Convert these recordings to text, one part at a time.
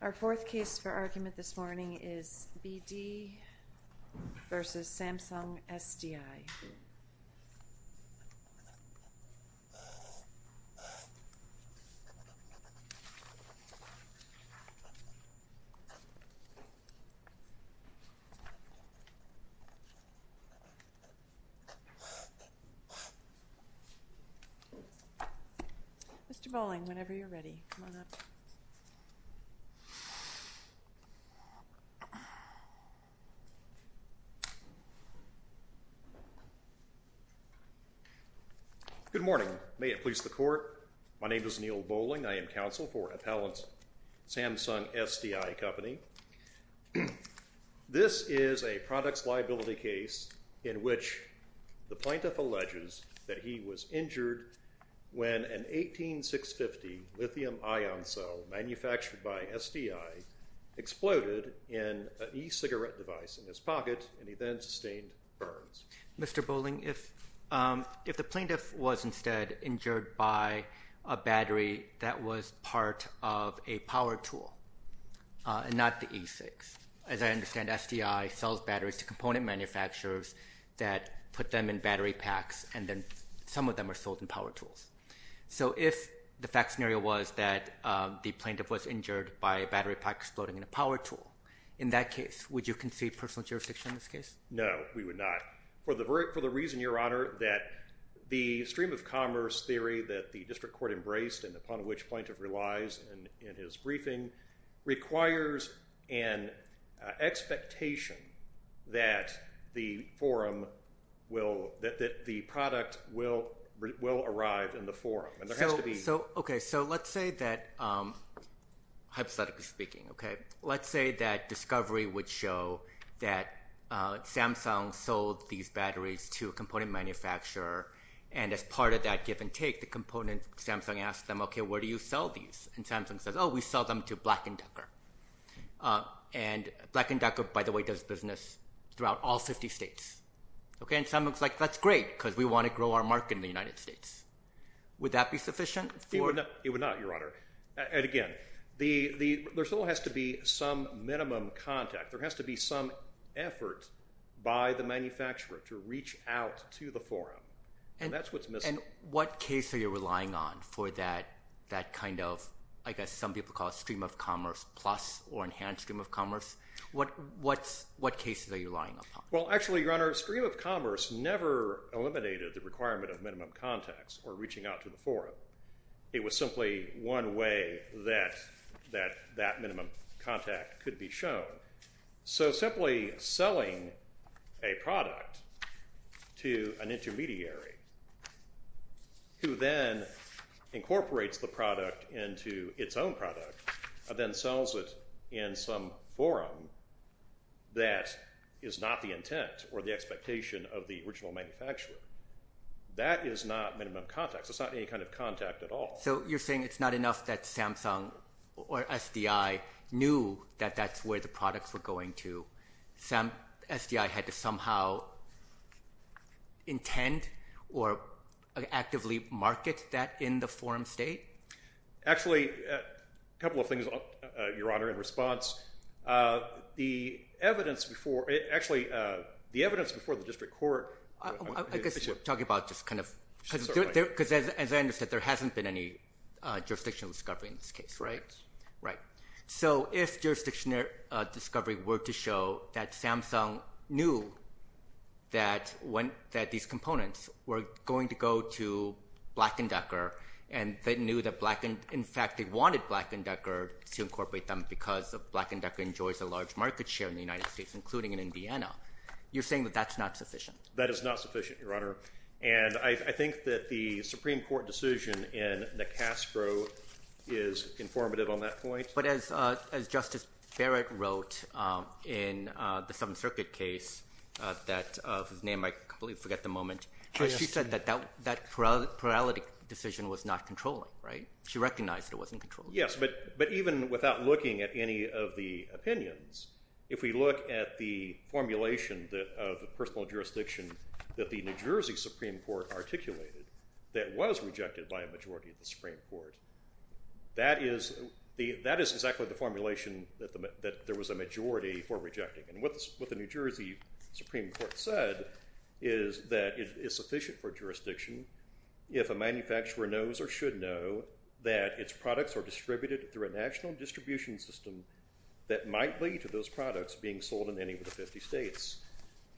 Our fourth case for argument this morning is B.D. v. Samsung SDI. Mr. Bolling, whenever you're ready, come on up. Good morning, may it please the Court, my name is Neal Bolling, I am counsel for Appellant Samsung SDI Company. This is a products liability case in which the plaintiff alleges that he was injured when an 18650 lithium ion cell manufactured by SDI exploded in an e-cigarette device in his pocket and he then sustained burns. Mr. Bolling, if the plaintiff was instead injured by a battery that was part of a power tool and not the E6, as I understand SDI sells batteries to component manufacturers that put them in battery packs and then some of them are sold in power tools. So if the fact scenario was that the plaintiff was injured by a battery pack exploding in a power tool, in that case, would you concede personal jurisdiction in this case? No, we would not. For the reason, Your Honor, that the stream of commerce theory that the district court embraced and upon which plaintiff relies in his briefing requires an expectation that the forum will, that the product will arrive in the forum and there has to be. So, okay, so let's say that, hypothetically speaking, okay, let's say that discovery would show that Samsung sold these batteries to a component manufacturer and as part of that give and take, the component, Samsung asks them, okay, where do you sell these? And Samsung says, oh, we sell them to Black & Decker. And Black & Decker, by the way, does business throughout all 50 states. Okay, and Samsung's like, that's great because we want to grow our market in the United States. Would that be sufficient? It would not, Your Honor, and again, there still has to be some minimum contact. There has to be some effort by the manufacturer to reach out to the forum and that's what's missing. And what case are you relying on for that kind of, I guess some people call it stream of commerce plus or enhanced stream of commerce. What cases are you relying upon? Well, actually, Your Honor, stream of commerce never eliminated the requirement of minimum contacts or reaching out to the forum. It was simply one way that that minimum contact could be shown. So simply selling a product to an intermediary who then incorporates the product into its own product and then sells it in some forum that is not the intent or the expectation of the original manufacturer. That is not minimum contacts. It's not any kind of contact at all. So you're saying it's not enough that Samsung or SDI knew that that's where the products were going to. SDI had to somehow intend or actively market that in the forum state? Actually, a couple of things, Your Honor, in response. The evidence before, actually, the evidence before the district court. I guess you're talking about just kind of, because as I understood, there hasn't been any jurisdictional discovery in this case, right? Right. So if jurisdictional discovery were to show that Samsung knew that these components were going to go to Black & Decker and they knew that Black & Decker, in fact, they wanted Black & Decker to incorporate them because Black & Decker enjoys a large market share in the United States, including in Indiana. You're saying that that's not sufficient? That is not sufficient, Your Honor. And I think that the Supreme Court decision in the Caspro is informative on that point. But as Justice Barrett wrote in the Seventh Circuit case that, whose name I completely forget at the moment, she said that that plurality decision was not controlling, right? She recognized it wasn't controlling. Yes. But even without looking at any of the opinions, if we look at the formulation of the personal jurisdiction that the New Jersey Supreme Court articulated that was rejected by a majority of the Supreme Court, that is exactly the formulation that there was a majority for rejecting. And what the New Jersey Supreme Court said is that it is sufficient for jurisdiction if a manufacturer knows or should know that its products are distributed through a national distribution system that might lead to those products being sold in any of the 50 states.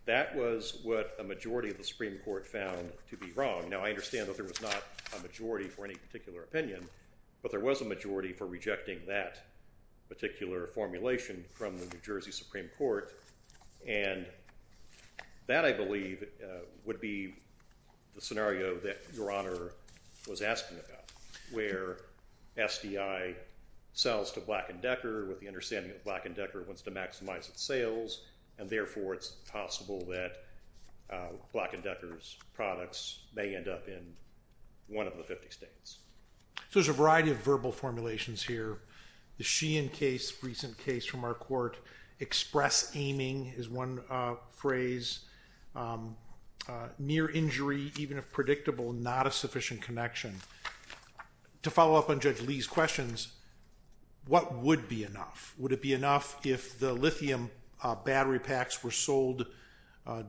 That was what a majority of the Supreme Court found to be wrong. Now I understand that there was not a majority for any particular opinion, but there was a majority for rejecting that particular formulation from the New Jersey Supreme Court. And that I believe would be the scenario that Your Honor was asking about, where SDI sells to Black & Decker with the understanding that Black & Decker wants to maximize its sales, and therefore it's possible that Black & Decker's products may end up in one of the 50 states. So there's a variety of verbal formulations here. The Sheehan case, recent case from our court, express aiming is one phrase, near injury even if predictable, not a sufficient connection. To follow up on Judge Lee's questions, what would be enough? Would it be enough if the lithium battery packs were sold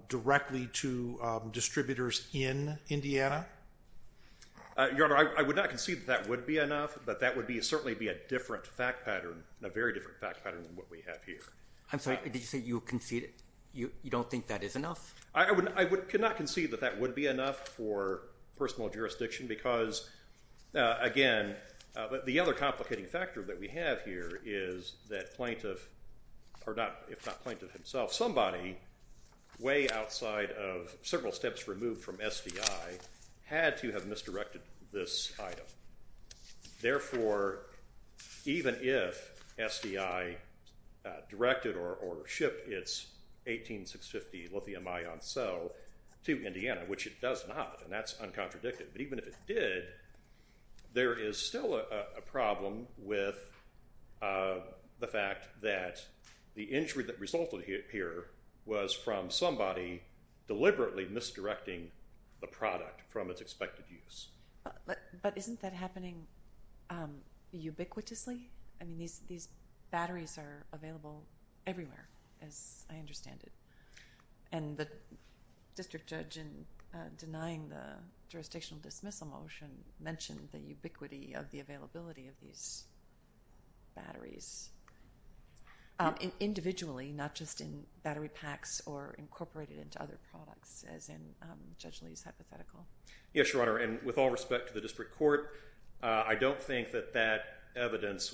directly to distributors in Indiana? Your Honor, I would not concede that that would be enough, but that would certainly be a different fact pattern, a very different fact pattern than what we have here. I'm sorry, did you say you concede that you don't think that is enough? I cannot concede that that would be enough for personal jurisdiction because, again, the other complicating factor that we have here is that plaintiff, if not plaintiff himself, somebody way outside of several steps removed from SDI had to have misdirected this item. Therefore, even if SDI directed or shipped its 18650 lithium ion cell to Indiana, which it does not, and that's uncontradicted, but even if it did, there is still a problem with the fact that the injury that resulted here was from somebody deliberately misdirecting the product from its expected use. But isn't that happening ubiquitously? These batteries are available everywhere, as I understand it, and the District Judge in denying the jurisdictional dismissal motion mentioned the ubiquity of the availability of these batteries, individually, not just in battery packs or incorporated into other products, as in Judge Lee's hypothetical. Yes, Your Honor, and with all respect to the District Court, I don't think that that evidence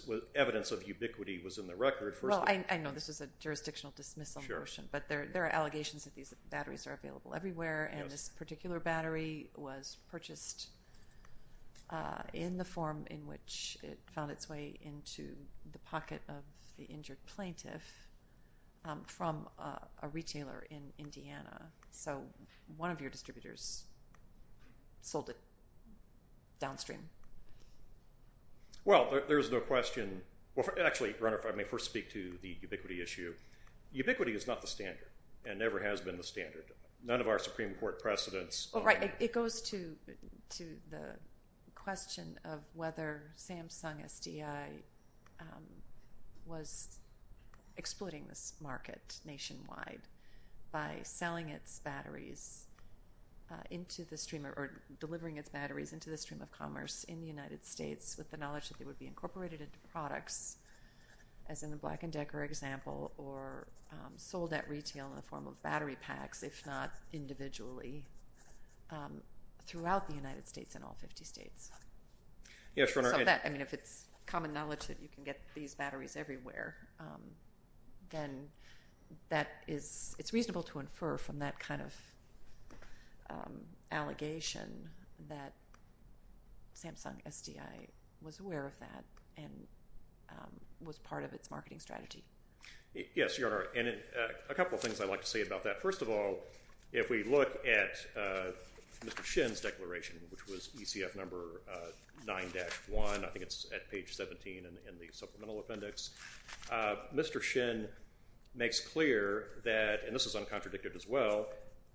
of ubiquity was in the record. Well, I know this was a jurisdictional dismissal motion, but there are allegations that these batteries are available everywhere, and this particular battery was purchased in the form in which it found its way into the pocket of the injured plaintiff from a retailer in Indiana. So one of your distributors sold it downstream. Well, there's no question. Actually, Your Honor, if I may first speak to the ubiquity issue. Ubiquity is not the standard and never has been the standard. None of our Supreme Court precedents... It goes to the question of whether Samsung SDI was exploiting this market nationwide by selling its batteries into the stream, or delivering its batteries into the stream of commerce in the United States with the knowledge that they would be incorporated into products, as in the Black and Decker example, or sold at retail in the form of throughout the United States in all 50 states. I mean, if it's common knowledge that you can get these batteries everywhere, then it's reasonable to infer from that kind of allegation that Samsung SDI was aware of that and was part of its marketing strategy. Yes, Your Honor, and a couple of things I'd like to say about that. First of all, if we look at Mr. Shin's declaration, which was ECF number 9-1. I think it's at page 17 in the supplemental appendix. Mr. Shin makes clear that, and this is uncontradicted as well,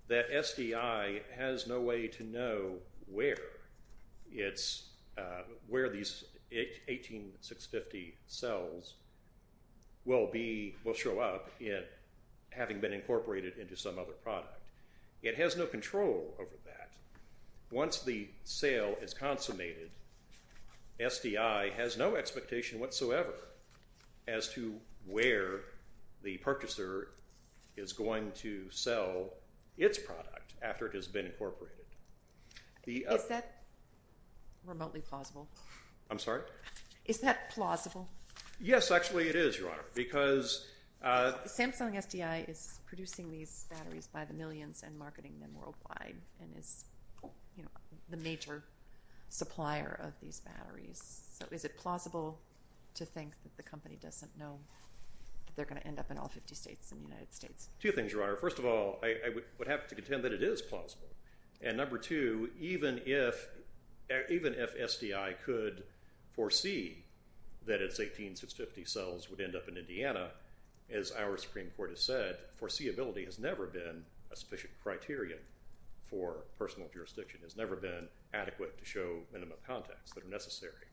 that SDI has no way to know where these 18650 cells will show up having been incorporated into some other product. It has no control over that. Once the sale is consummated, SDI has no expectation whatsoever as to where the purchaser is going to sell its product after it has been incorporated. Is that remotely plausible? I'm sorry? Is that plausible? Yes, actually it is, Your Honor. Samsung SDI is producing these batteries by the millions and marketing them worldwide and is the major supplier of these batteries. Is it plausible to think that the company doesn't know that they're going to end up in all 50 states and the United States? Two things, Your Honor. First of all, I would have to contend that it is plausible. And number two, even if SDI could foresee that its 18650 cells would end up in Indiana, as our Supreme Court has said, foreseeability has never been a sufficient criterion for personal jurisdiction. It has never been adequate to show minimum contacts that are necessary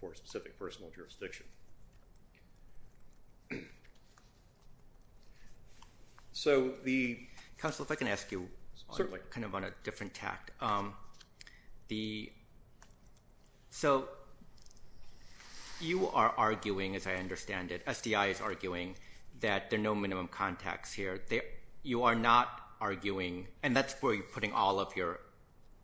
for a specific personal jurisdiction. Thank you. Counsel, if I can ask you, kind of on a different tact. So you are arguing, as I understand it, SDI is arguing, that there are no minimum contacts here. You are not arguing, and that's where you're putting all of your,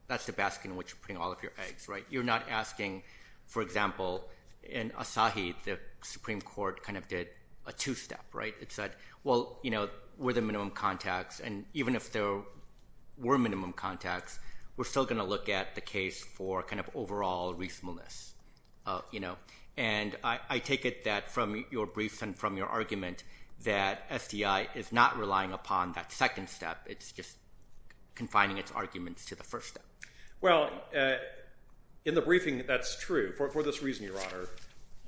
that's the basket in which you're putting all of your eggs, right? You're not asking, for example, in Asahi, the Supreme Court kind of did a two-step, right? It said, well, you know, were there minimum contacts? And even if there were minimum contacts, we're still going to look at the case for kind of overall reasonableness, you know? And I take it that from your briefs and from your argument that SDI is not relying upon that second step. It's just confining its arguments to the first step. Well, in the briefing, that's true. For this reason, Your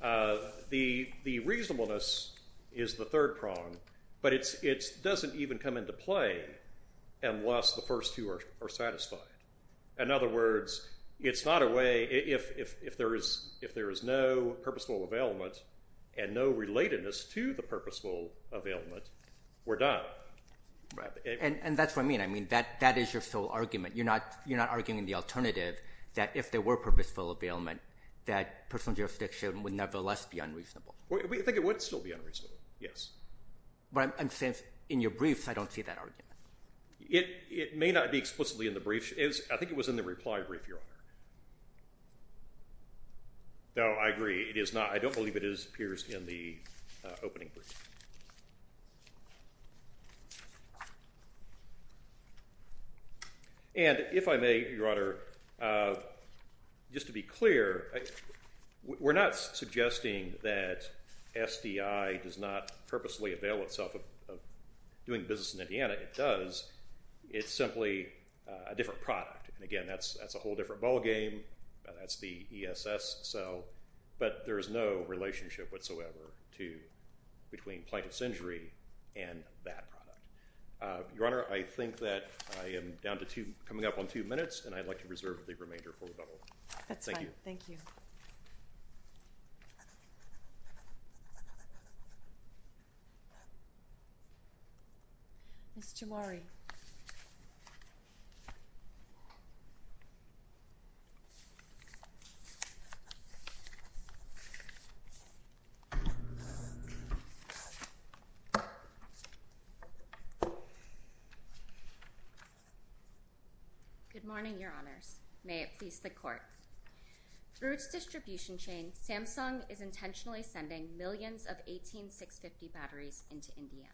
Honour, the reasonableness is the third prong, but it doesn't even come into play unless the first two are satisfied. In other words, it's not a way, if there is no purposeful availment and no relatedness to the purposeful availment, we're done. And that's what I mean. I mean, that is your full argument. You're not arguing the alternative that if there were purposeful availment, that personal jurisdiction would nevertheless be unreasonable. I think it would still be unreasonable, yes. But I'm saying in your briefs, I don't see that argument. It may not be explicitly in the brief. I think it was in the reply brief, Your Honour. No, I agree. It is not. I don't believe it appears in the opening brief. And if I may, Your Honour, just to be clear, we're not suggesting that SDI does not purposely avail itself of doing business in Indiana. It does. It's simply a different product. And again, that's a whole different ballgame. But there is no relationship whatsoever between the two. Between plaintiff's injury and that product. Your Honour, I think that I am down to two, coming up on two minutes, and I'd like to reserve the remainder for rebuttal. That's fine. Thank you. Ms. Jomari. Good morning, Your Honours. May it please the Court. Through its distribution chain, Samsung is intentionally sending millions of 18650 batteries into Indiana.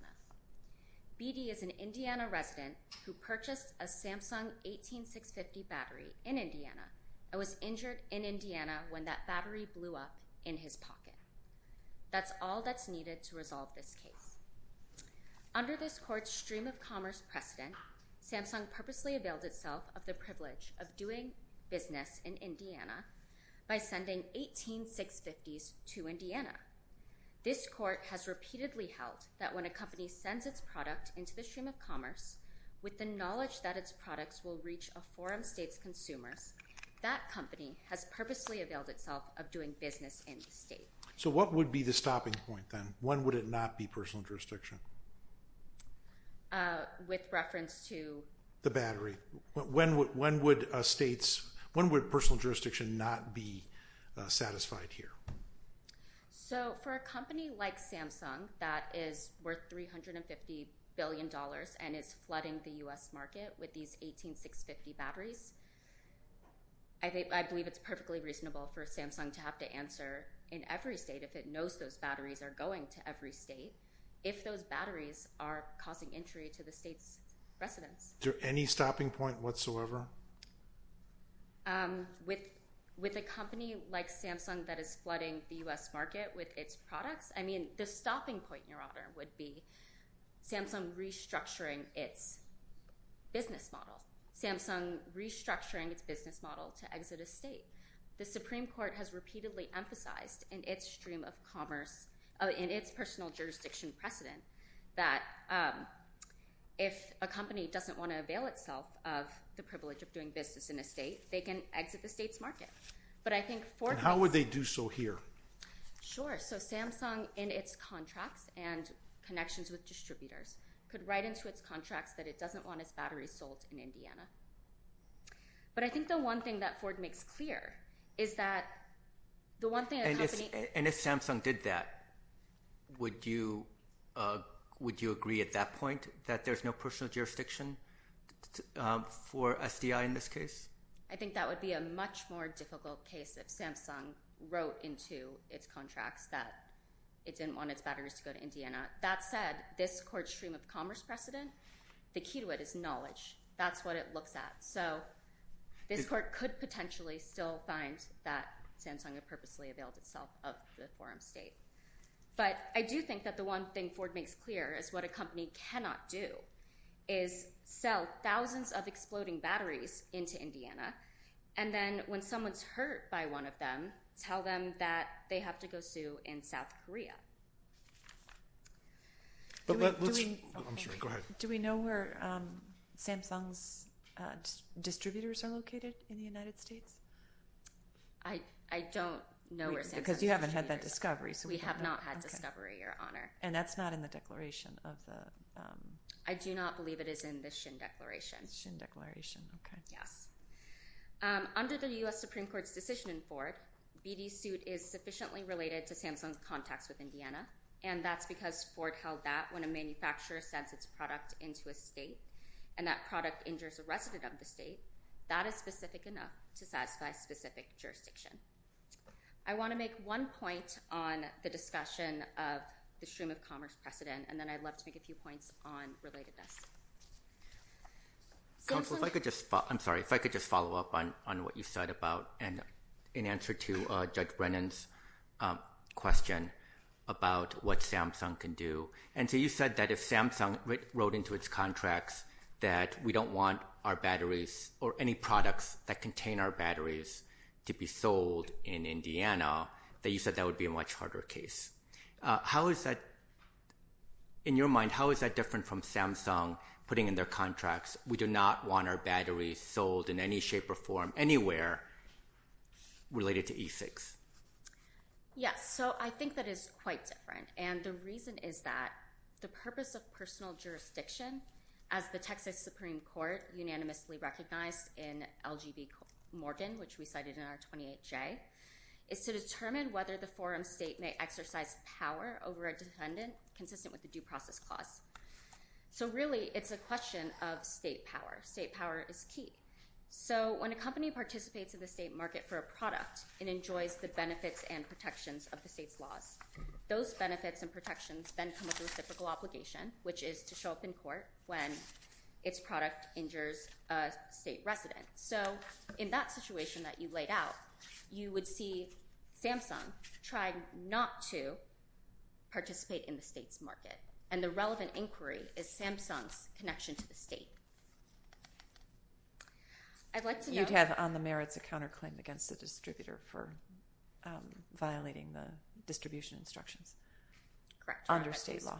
BD is an Indiana resident who purchased a Samsung 18650 battery in Indiana and was injured in Indiana when that battery blew up in his pocket. That's all that's needed to resolve this case. Under this Court's stream-of-commerce precedent, Samsung purposely availed itself of the privilege of doing business in Indiana by sending 18650s to Indiana. This Court has repeatedly held that when a company sends its product into the stream of commerce with the knowledge that its products will reach a foreign state's consumers, that company has purposely availed itself of doing business in the state. So what would be the stopping point, then? When would it not be personal jurisdiction? With reference to...? The battery. When would states... When would personal jurisdiction not be satisfied here? So, for a company like Samsung that is worth $350 billion and is flooding the U.S. market with these 18650 batteries, I believe it's perfectly reasonable for Samsung to have to answer in every state if it knows those batteries are going to every state, if those batteries are causing injury to the state's residents. Is there any stopping point whatsoever? With a company like Samsung that is flooding the U.S. market with its products? I mean, the stopping point, Your Honor, would be Samsung restructuring its business model. Samsung restructuring its business model to exit a state. The Supreme Court has repeatedly emphasized in its stream of commerce, in its personal jurisdiction precedent, that if a company doesn't want to avail itself of the privilege of doing business in a state, they can exit the state's market. How would they do so here? Sure. So Samsung, in its contracts and connections with distributors, could write into its contracts that it doesn't want its batteries sold in Indiana. But I think the one thing that Ford makes clear is that the one thing... And if Samsung did that, would you agree at that point that there's no personal jurisdiction for SDI in this case? I think that would be a much more difficult case if Samsung wrote into its contracts that it didn't want its batteries to go to Indiana. That said, this Court's stream of commerce precedent, the key to it is knowledge. That's what it looks at. So this Court could potentially still find that Samsung had purposely availed itself of the forum state. But I do think that the one thing Ford makes clear is what a company cannot do is sell thousands of exploding batteries into Indiana, and then when someone's hurt by one of them, tell them that they have to go sue in South Korea. Do we know where Samsung's distributors are located in the United States? I don't know where Samsung's distributors are. Because you haven't had that discovery. We have not had discovery, Your Honor. And that's not in the declaration of the... I do not believe it is in the Shin Declaration. Shin Declaration, okay. Under the U.S. Supreme Court's decision in Ford, BD's suit is sufficiently related to Samsung's contacts with Indiana, and that's because Ford held that when a manufacturer sends its product into a state and that product injures a resident of the state, that is specific enough to satisfy specific jurisdiction. I want to make one point on the discussion of the stream of commerce precedent, and then I'd love to make a few points on relatedness. Counsel, if I could just... I'm sorry. If I could just follow up on what you said about and in answer to Judge Brennan's question about what Samsung can do. And so you said that if Samsung wrote into its contracts that we don't want our batteries or any products that contain our batteries to be sold in Indiana, that you said that would be a much harder case. How is that... In your mind, how is that different from Samsung putting in their contracts we do not want our batteries sold in any shape or form anywhere related to E6? Yes. So I think that is quite different, and the reason is that the purpose of the Texas Supreme Court, unanimously recognized in LGBT Morgan, which we cited in our 28J, is to determine whether the forum state may exercise power over a defendant consistent with the due process clause. So really, it's a question of state power. State power is key. So when a company participates in the state market for a product, it enjoys the benefits and protections of the state's laws. Those benefits and protections then come with a reciprocal obligation, which is to show up in court when its product injures a state resident. So in that situation that you laid out, you would see Samsung try not to participate in the state's market. And the relevant inquiry is Samsung's connection to the state. I'd like to know... You'd have, on the merits, a counterclaim against the distributor for violating the distribution instructions. Correct. Under state law.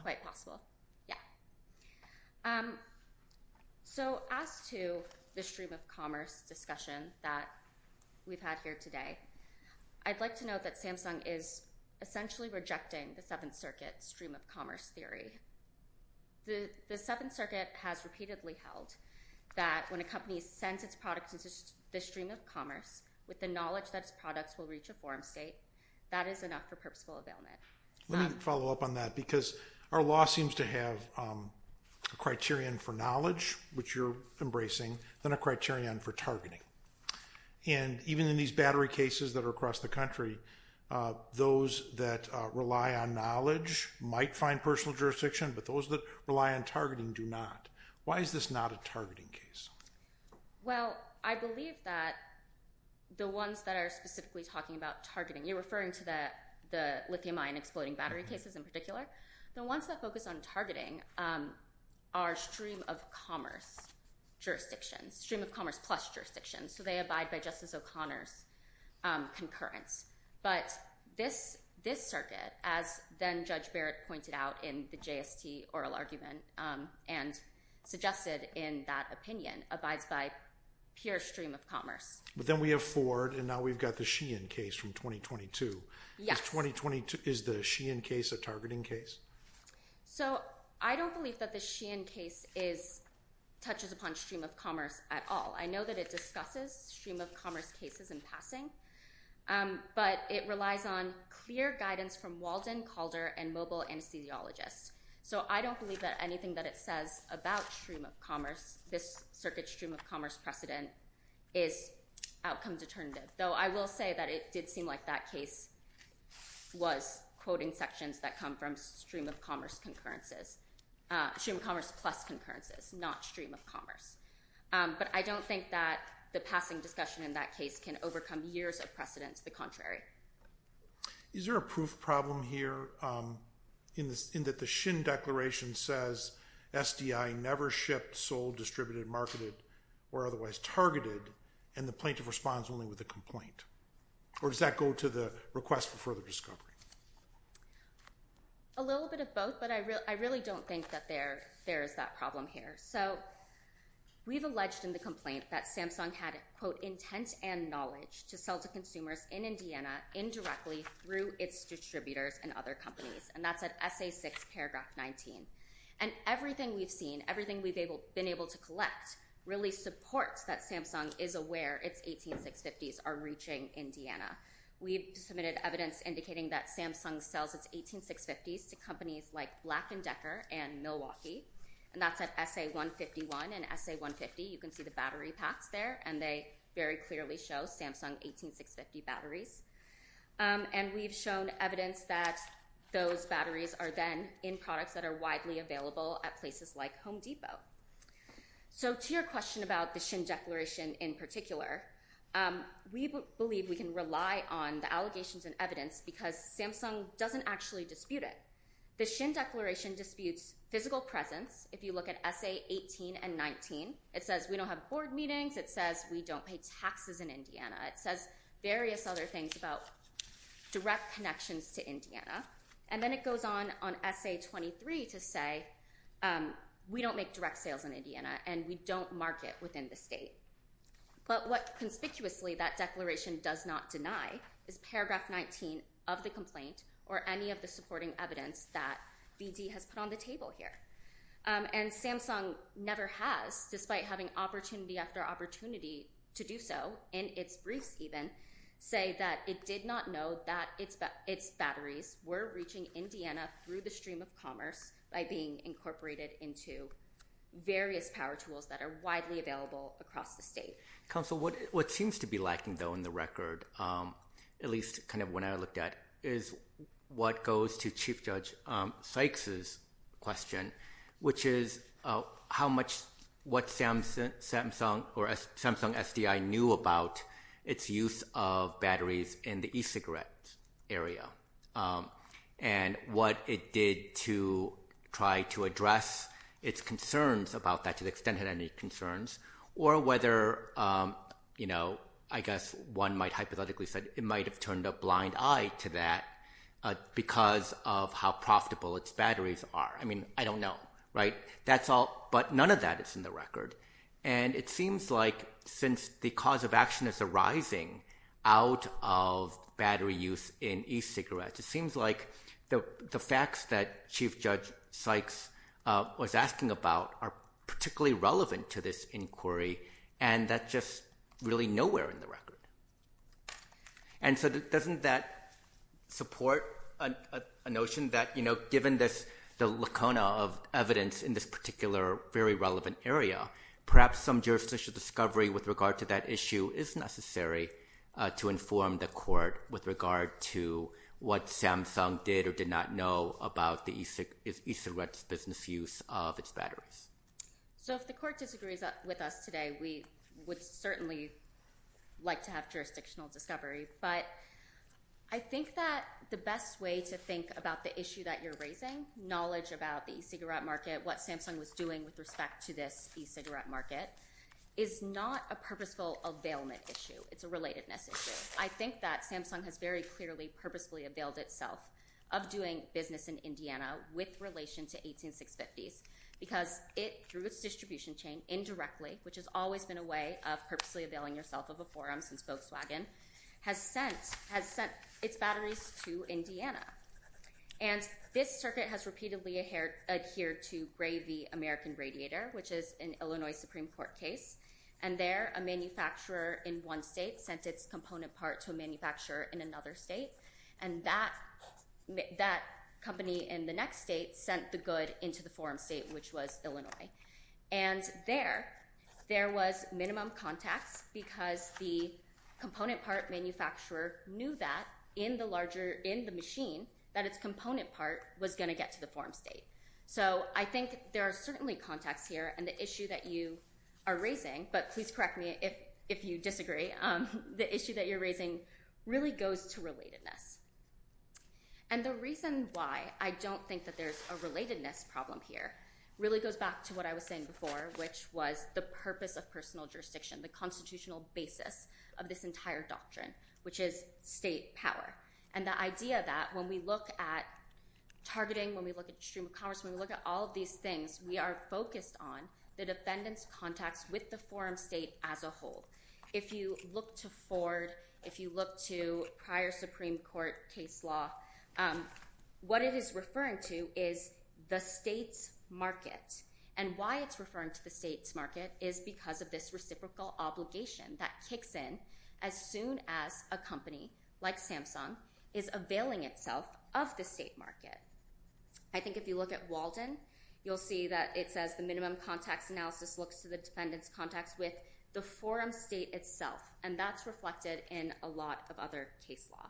Yeah. So as to the stream of commerce discussion that we've had here today, I'd like to note that Samsung is essentially rejecting the Seventh Circuit stream of commerce theory. The Seventh Circuit has repeatedly held that when a company sends its product to the stream of commerce, with the knowledge that its products will reach a forum state, that is enough for purposeful availment. Let me follow up on that, because our law seems to have a criterion for knowledge, which you're embracing, then a criterion for targeting. And even in these battery cases that are across the country, those that rely on knowledge might find personal jurisdiction, but those that rely on targeting do not. Why is this not a targeting case? Well, I believe that the ones that are specifically talking about targeting, you're referring to the lithium-ion exploding battery cases in particular, the ones that focus on targeting are stream of commerce jurisdictions, stream of commerce plus jurisdictions, so they abide by Justice O'Connor's concurrence. But this circuit, as then Judge Barrett pointed out in the JST oral argument, and suggested in that opinion, abides by pure stream of commerce. But then we have Ford and now we've got the Sheehan case from 2022. Is the Sheehan case a targeting case? So, I don't believe that the Sheehan case touches upon stream of commerce at all. I know that it discusses stream of commerce cases in passing, but it relies on clear guidance from Walden, Calder, So I don't believe that anything that it says about stream of commerce, this is outcome determinative. Though I will say that it did seem like that case was quoting sections that come from stream of commerce concurrences, stream of commerce plus concurrences, not stream of commerce. But I don't think that the passing discussion in that case can overcome years of precedence the contrary. Is there a proof problem here in that the Sheehan declaration says SDI never shipped, sold, distributed, marketed or otherwise targeted and the plaintiff responds only with a complaint? Or does that go to the request for further discovery? A little bit of both, but I really don't think that there is that problem here. We've alleged in the complaint that Samsung had, quote, intent and knowledge to sell to consumers in Indiana indirectly through its distributors and other companies. And that's at SA6 paragraph 19. And everything we've seen, everything we've been able to collect really supports that Samsung is aware its 18650s are reaching Indiana. We've submitted evidence indicating that Samsung sells its 18650s to companies like Black & Decker and Milwaukee and that's at SA151 and SA150. You can see the battery packs there and they very clearly show Samsung 18650 batteries. And we've shown evidence that those batteries are then in products that are available at the Indian Depot. So to your question about the Shin Declaration in particular, we believe we can rely on the allegations and evidence because Samsung doesn't actually dispute it. The Shin Declaration disputes physical presence. If you look at SA18 and 19, it says we don't have board meetings. It says we don't pay taxes in Indiana. It says various other things about direct connections to Indiana. And then it goes on on SA23 to say we don't make direct sales in Indiana and we don't market within the state. But what conspicuously that declaration does not deny is paragraph 19 of the complaint or any of the supporting evidence that BD has put on the table here. And Samsung never has, despite having opportunity after opportunity to do so in its briefs even, say that it did not know that its batteries were reaching Indiana through the stream of commerce by being incorporated into various power tools that are widely available across the state. Counsel, what seems to be lacking though in the record, at least kind of when I looked at, is what goes to Chief Judge Sykes' question, which is how much what Samsung or Samsung SDI knew about its use of batteries in the e-cigarette area and what it did to try to address its concerns about that, to the extent it had any concerns, or whether you know, I guess one might hypothetically say it might have turned a blind eye to that because of how profitable its batteries are. I mean, I don't know. Right? That's all, but none of that is in the record. And it seems like since the cause of action is arising out of battery use in e-cigarettes, it seems like the facts that Chief Judge Sykes was asking about are particularly relevant to this inquiry, and that's just really nowhere in the record. And so doesn't that support a notion that, you know, given this, the lacuna of evidence in this particular very relevant area, perhaps some jurisdictional discovery with regard to that issue is necessary to inform the court with regard to what Samsung did or did not know about the e-cigarette business use of its batteries. So if the court disagrees with us today, we would certainly like to have jurisdictional discovery, but I think that the best way to think about the issue that you're raising, knowledge about the e-cigarette market, what Samsung was doing with respect to this e-cigarette market, is not a purposeful availment issue. It's a relatedness issue. I think that Samsung has very clearly purposefully availed itself of doing business in Indiana with relation to 18650s because it, through its distribution chain, indirectly, which has always been a way of purposely availing yourself of a forum since Volkswagen, has sent its batteries to Indiana. And this circuit has repeatedly adhered to Gray v. American case. And there, a manufacturer in one state sent its component part to a manufacturer in another state and that company in the next state sent the good into the forum state, which was Illinois. And there, there was minimum contacts because the component part manufacturer knew that in the larger, in the machine, that its component part was going to get to the forum state. So I think there are certainly contacts here and the issue that you are raising, but please correct me if you disagree, the issue that you're raising really goes to relatedness. And the reason why I don't think that there's a relatedness problem here really goes back to what I was saying before, which was the purpose of personal jurisdiction, the constitutional basis of this entire doctrine, which is state power. And the idea that when we look at targeting, when we look at stream of commerce, when we look at all of these things, we are focused on the defendant's contacts with the forum state as a whole. If you look to Ford, if you look to prior Supreme Court case law, what it is referring to is the state's market. And why it's referring to the state's market is because of this reciprocal obligation that kicks in as soon as a company like Samsung is availing itself of the state market. I think if you look at Walden, you'll see that it says the minimum context analysis looks to the defendant's contacts with the forum state itself, and that's reflected in a lot of other case law.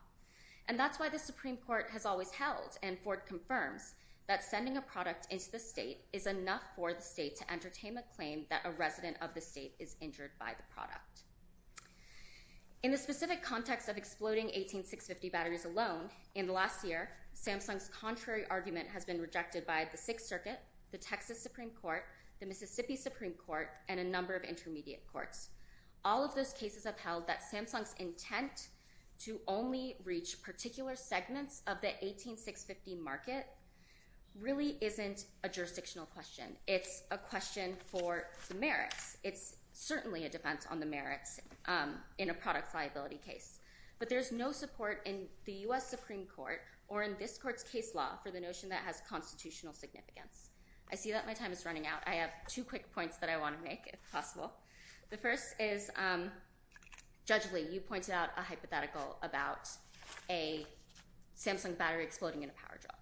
And that's why the Supreme Court has always held, and Ford confirms, that sending a product into the state is enough for the state to entertain a claim that a resident of the state is injured by the product. In the specific context of exploding 18650 batteries alone, in the last year, Samsung's contrary argument has been rejected by the Sixth Circuit, the Texas Supreme Court, the Mississippi Supreme Court, and a number of intermediate courts. All of those cases upheld that Samsung's intent to only reach particular segments of the 18650 market really isn't a jurisdictional question. It's a question for the merits. It's certainly a defense on the merits in a product liability case. But there's no support in the U.S. Supreme Court or in this court's case law for the notion that it has constitutional significance. I see that my time is running out. I have two quick points that I want to make, if possible. The first is, Judge Lee, you pointed out a hypothetical about a Samsung battery exploding in a power drill.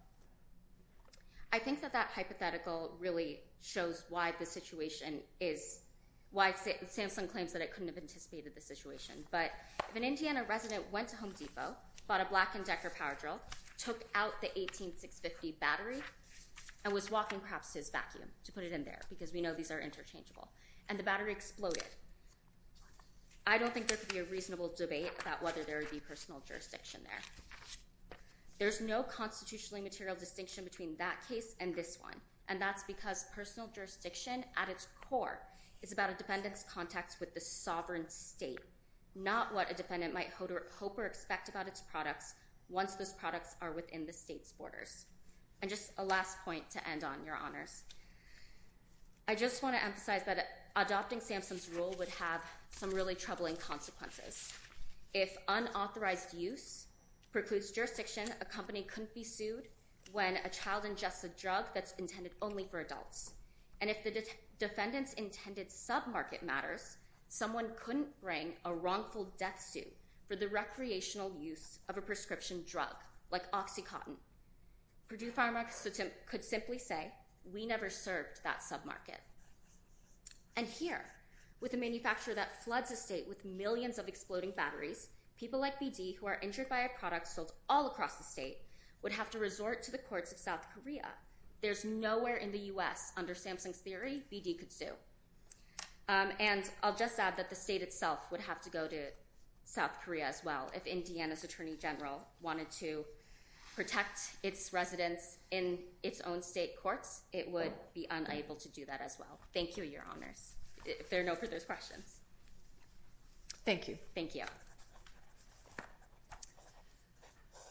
I think that that hypothetical really shows why the situation is... Samsung claims that it couldn't have anticipated the situation, but if an Indiana resident went to Home Depot, bought a black and Decker power drill, took out the 18650 battery, and was walking, perhaps, to his vacuum to put it in there, because we know these are interchangeable, and the battery exploded, I don't think there could be a reasonable debate about whether there would be personal jurisdiction there. There's no constitutionally material distinction between that case and this one, and that's because personal jurisdiction at its core is about a defendant's right to the sovereign state, not what a defendant might hope or expect about its products once those products are within the state's borders. And just a last point to end on, Your Honors. I just want to emphasize that adopting Samsung's rule would have some really troubling consequences. If unauthorized use precludes jurisdiction, a company couldn't be sued when a child ingests a drug that's intended only for adults. And if the defendant's intended sub-market matters, someone couldn't bring a wrongful death suit for the recreational use of a prescription drug, like OxyContin. Purdue Pharmaceuticals could simply say we never served that sub-market. And here, with a manufacturer that floods a state with millions of exploding batteries, people like BD, who are injured by a product sold all across the state, would have to resort to the courts of South Korea. There's nowhere in the U.S. under Samsung's theory, BD could sue. And I'll just add that the state itself would have to go to South Korea as well. If Indiana's Attorney General wanted to protect its residents in its own state courts, it would be unable to do that as well. Thank you, Your Honors, if there are no further questions. Thank you.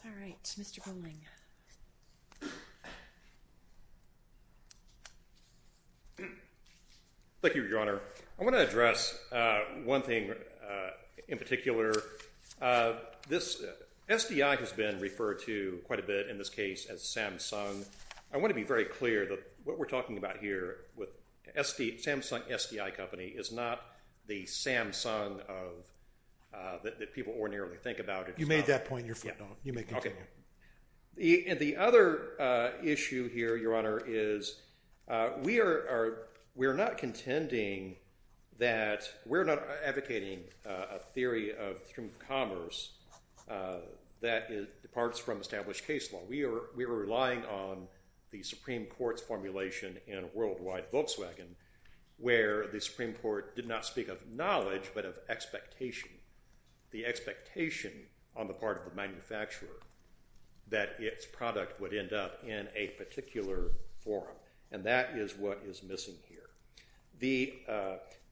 All right, Mr. Buhling. Thank you, Your Honor. I want to address one thing in particular. This SDI has been referred to quite a bit in this case as Samsung. I want to be very clear that what we're talking about here with Samsung SDI Company is not the Samsung that people ordinarily think about. You made that point. You may continue. The other issue here, Your Honor, is we're not contending that we're not advocating a theory of commerce that departs from established case law. We are relying on the Supreme Court's formulation in Worldwide Volkswagen where the Supreme Court did not speak of knowledge, but of expectation. The expectation on the part of the manufacturer that its product would end up in a particular forum, and that is what is missing here. The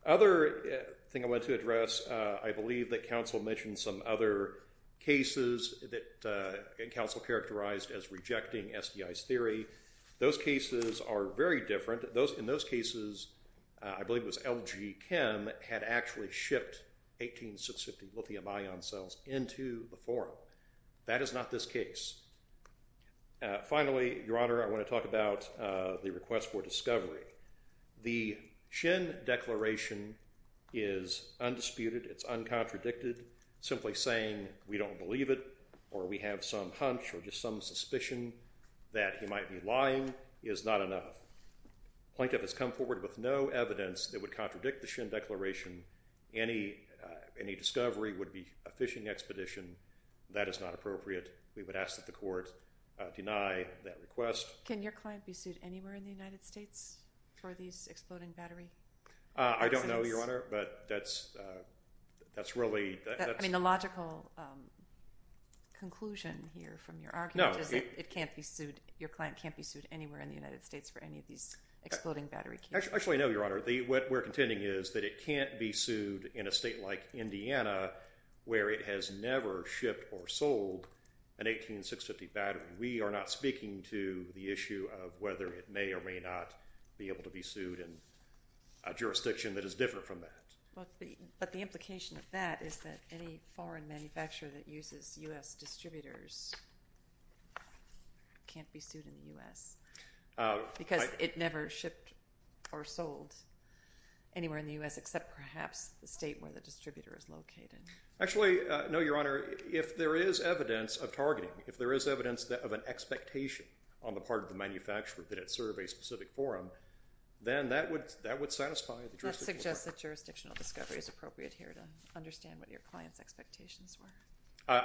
other thing I want to address, I believe that counsel mentioned some other cases that counsel characterized as rejecting SDI's theory. Those cases are very different. In those cases, I believe it was LG Chem had actually shipped 18650 lithium ion cells into the forum. That is not this case. Finally, Your Honor, I want to talk about the request for discovery. declaration is undisputed. It's uncontradicted. Simply saying, we don't believe it or we have some hunch or just some suspicion that he might be lying is not enough. Plaintiff has come forward with no evidence that would contradict the Shin declaration. Any discovery would be a fishing expedition. That is not appropriate. We would ask that the court deny that request. Can your client be sued anywhere in the United States for these exploding battery cases? I don't know, Your Honor, but that's really... The logical conclusion here from your argument is that your client can't be sued anywhere in the United States for any of these exploding battery cases. Actually, I know, Your Honor. What we're contending is that it can't be sued in a state like Indiana where it has never shipped or sold an 18650 battery. We are not speaking to the issue of whether it may or may not be able to be sued in a jurisdiction that is different from that. But the implication of that is that any foreign manufacturer that uses U.S. distributors can't be sued in the U.S. because it never shipped or sold anywhere in the U.S. except perhaps the state where the distributor is located. Actually, no, Your Honor. If there is evidence of targeting, if there is evidence of an expectation on the part of the manufacturer that it serve a specific forum, then that would satisfy the jurisdiction. That suggests that jurisdictional discovery is appropriate here to understand what your client's expectations were.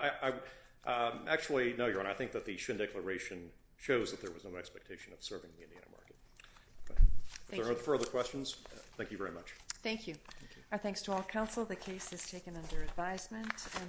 Actually, no, Your Honor. I think that the Shin Declaration shows that there was no expectation of serving the Indiana market. If there are no further questions, thank you very much.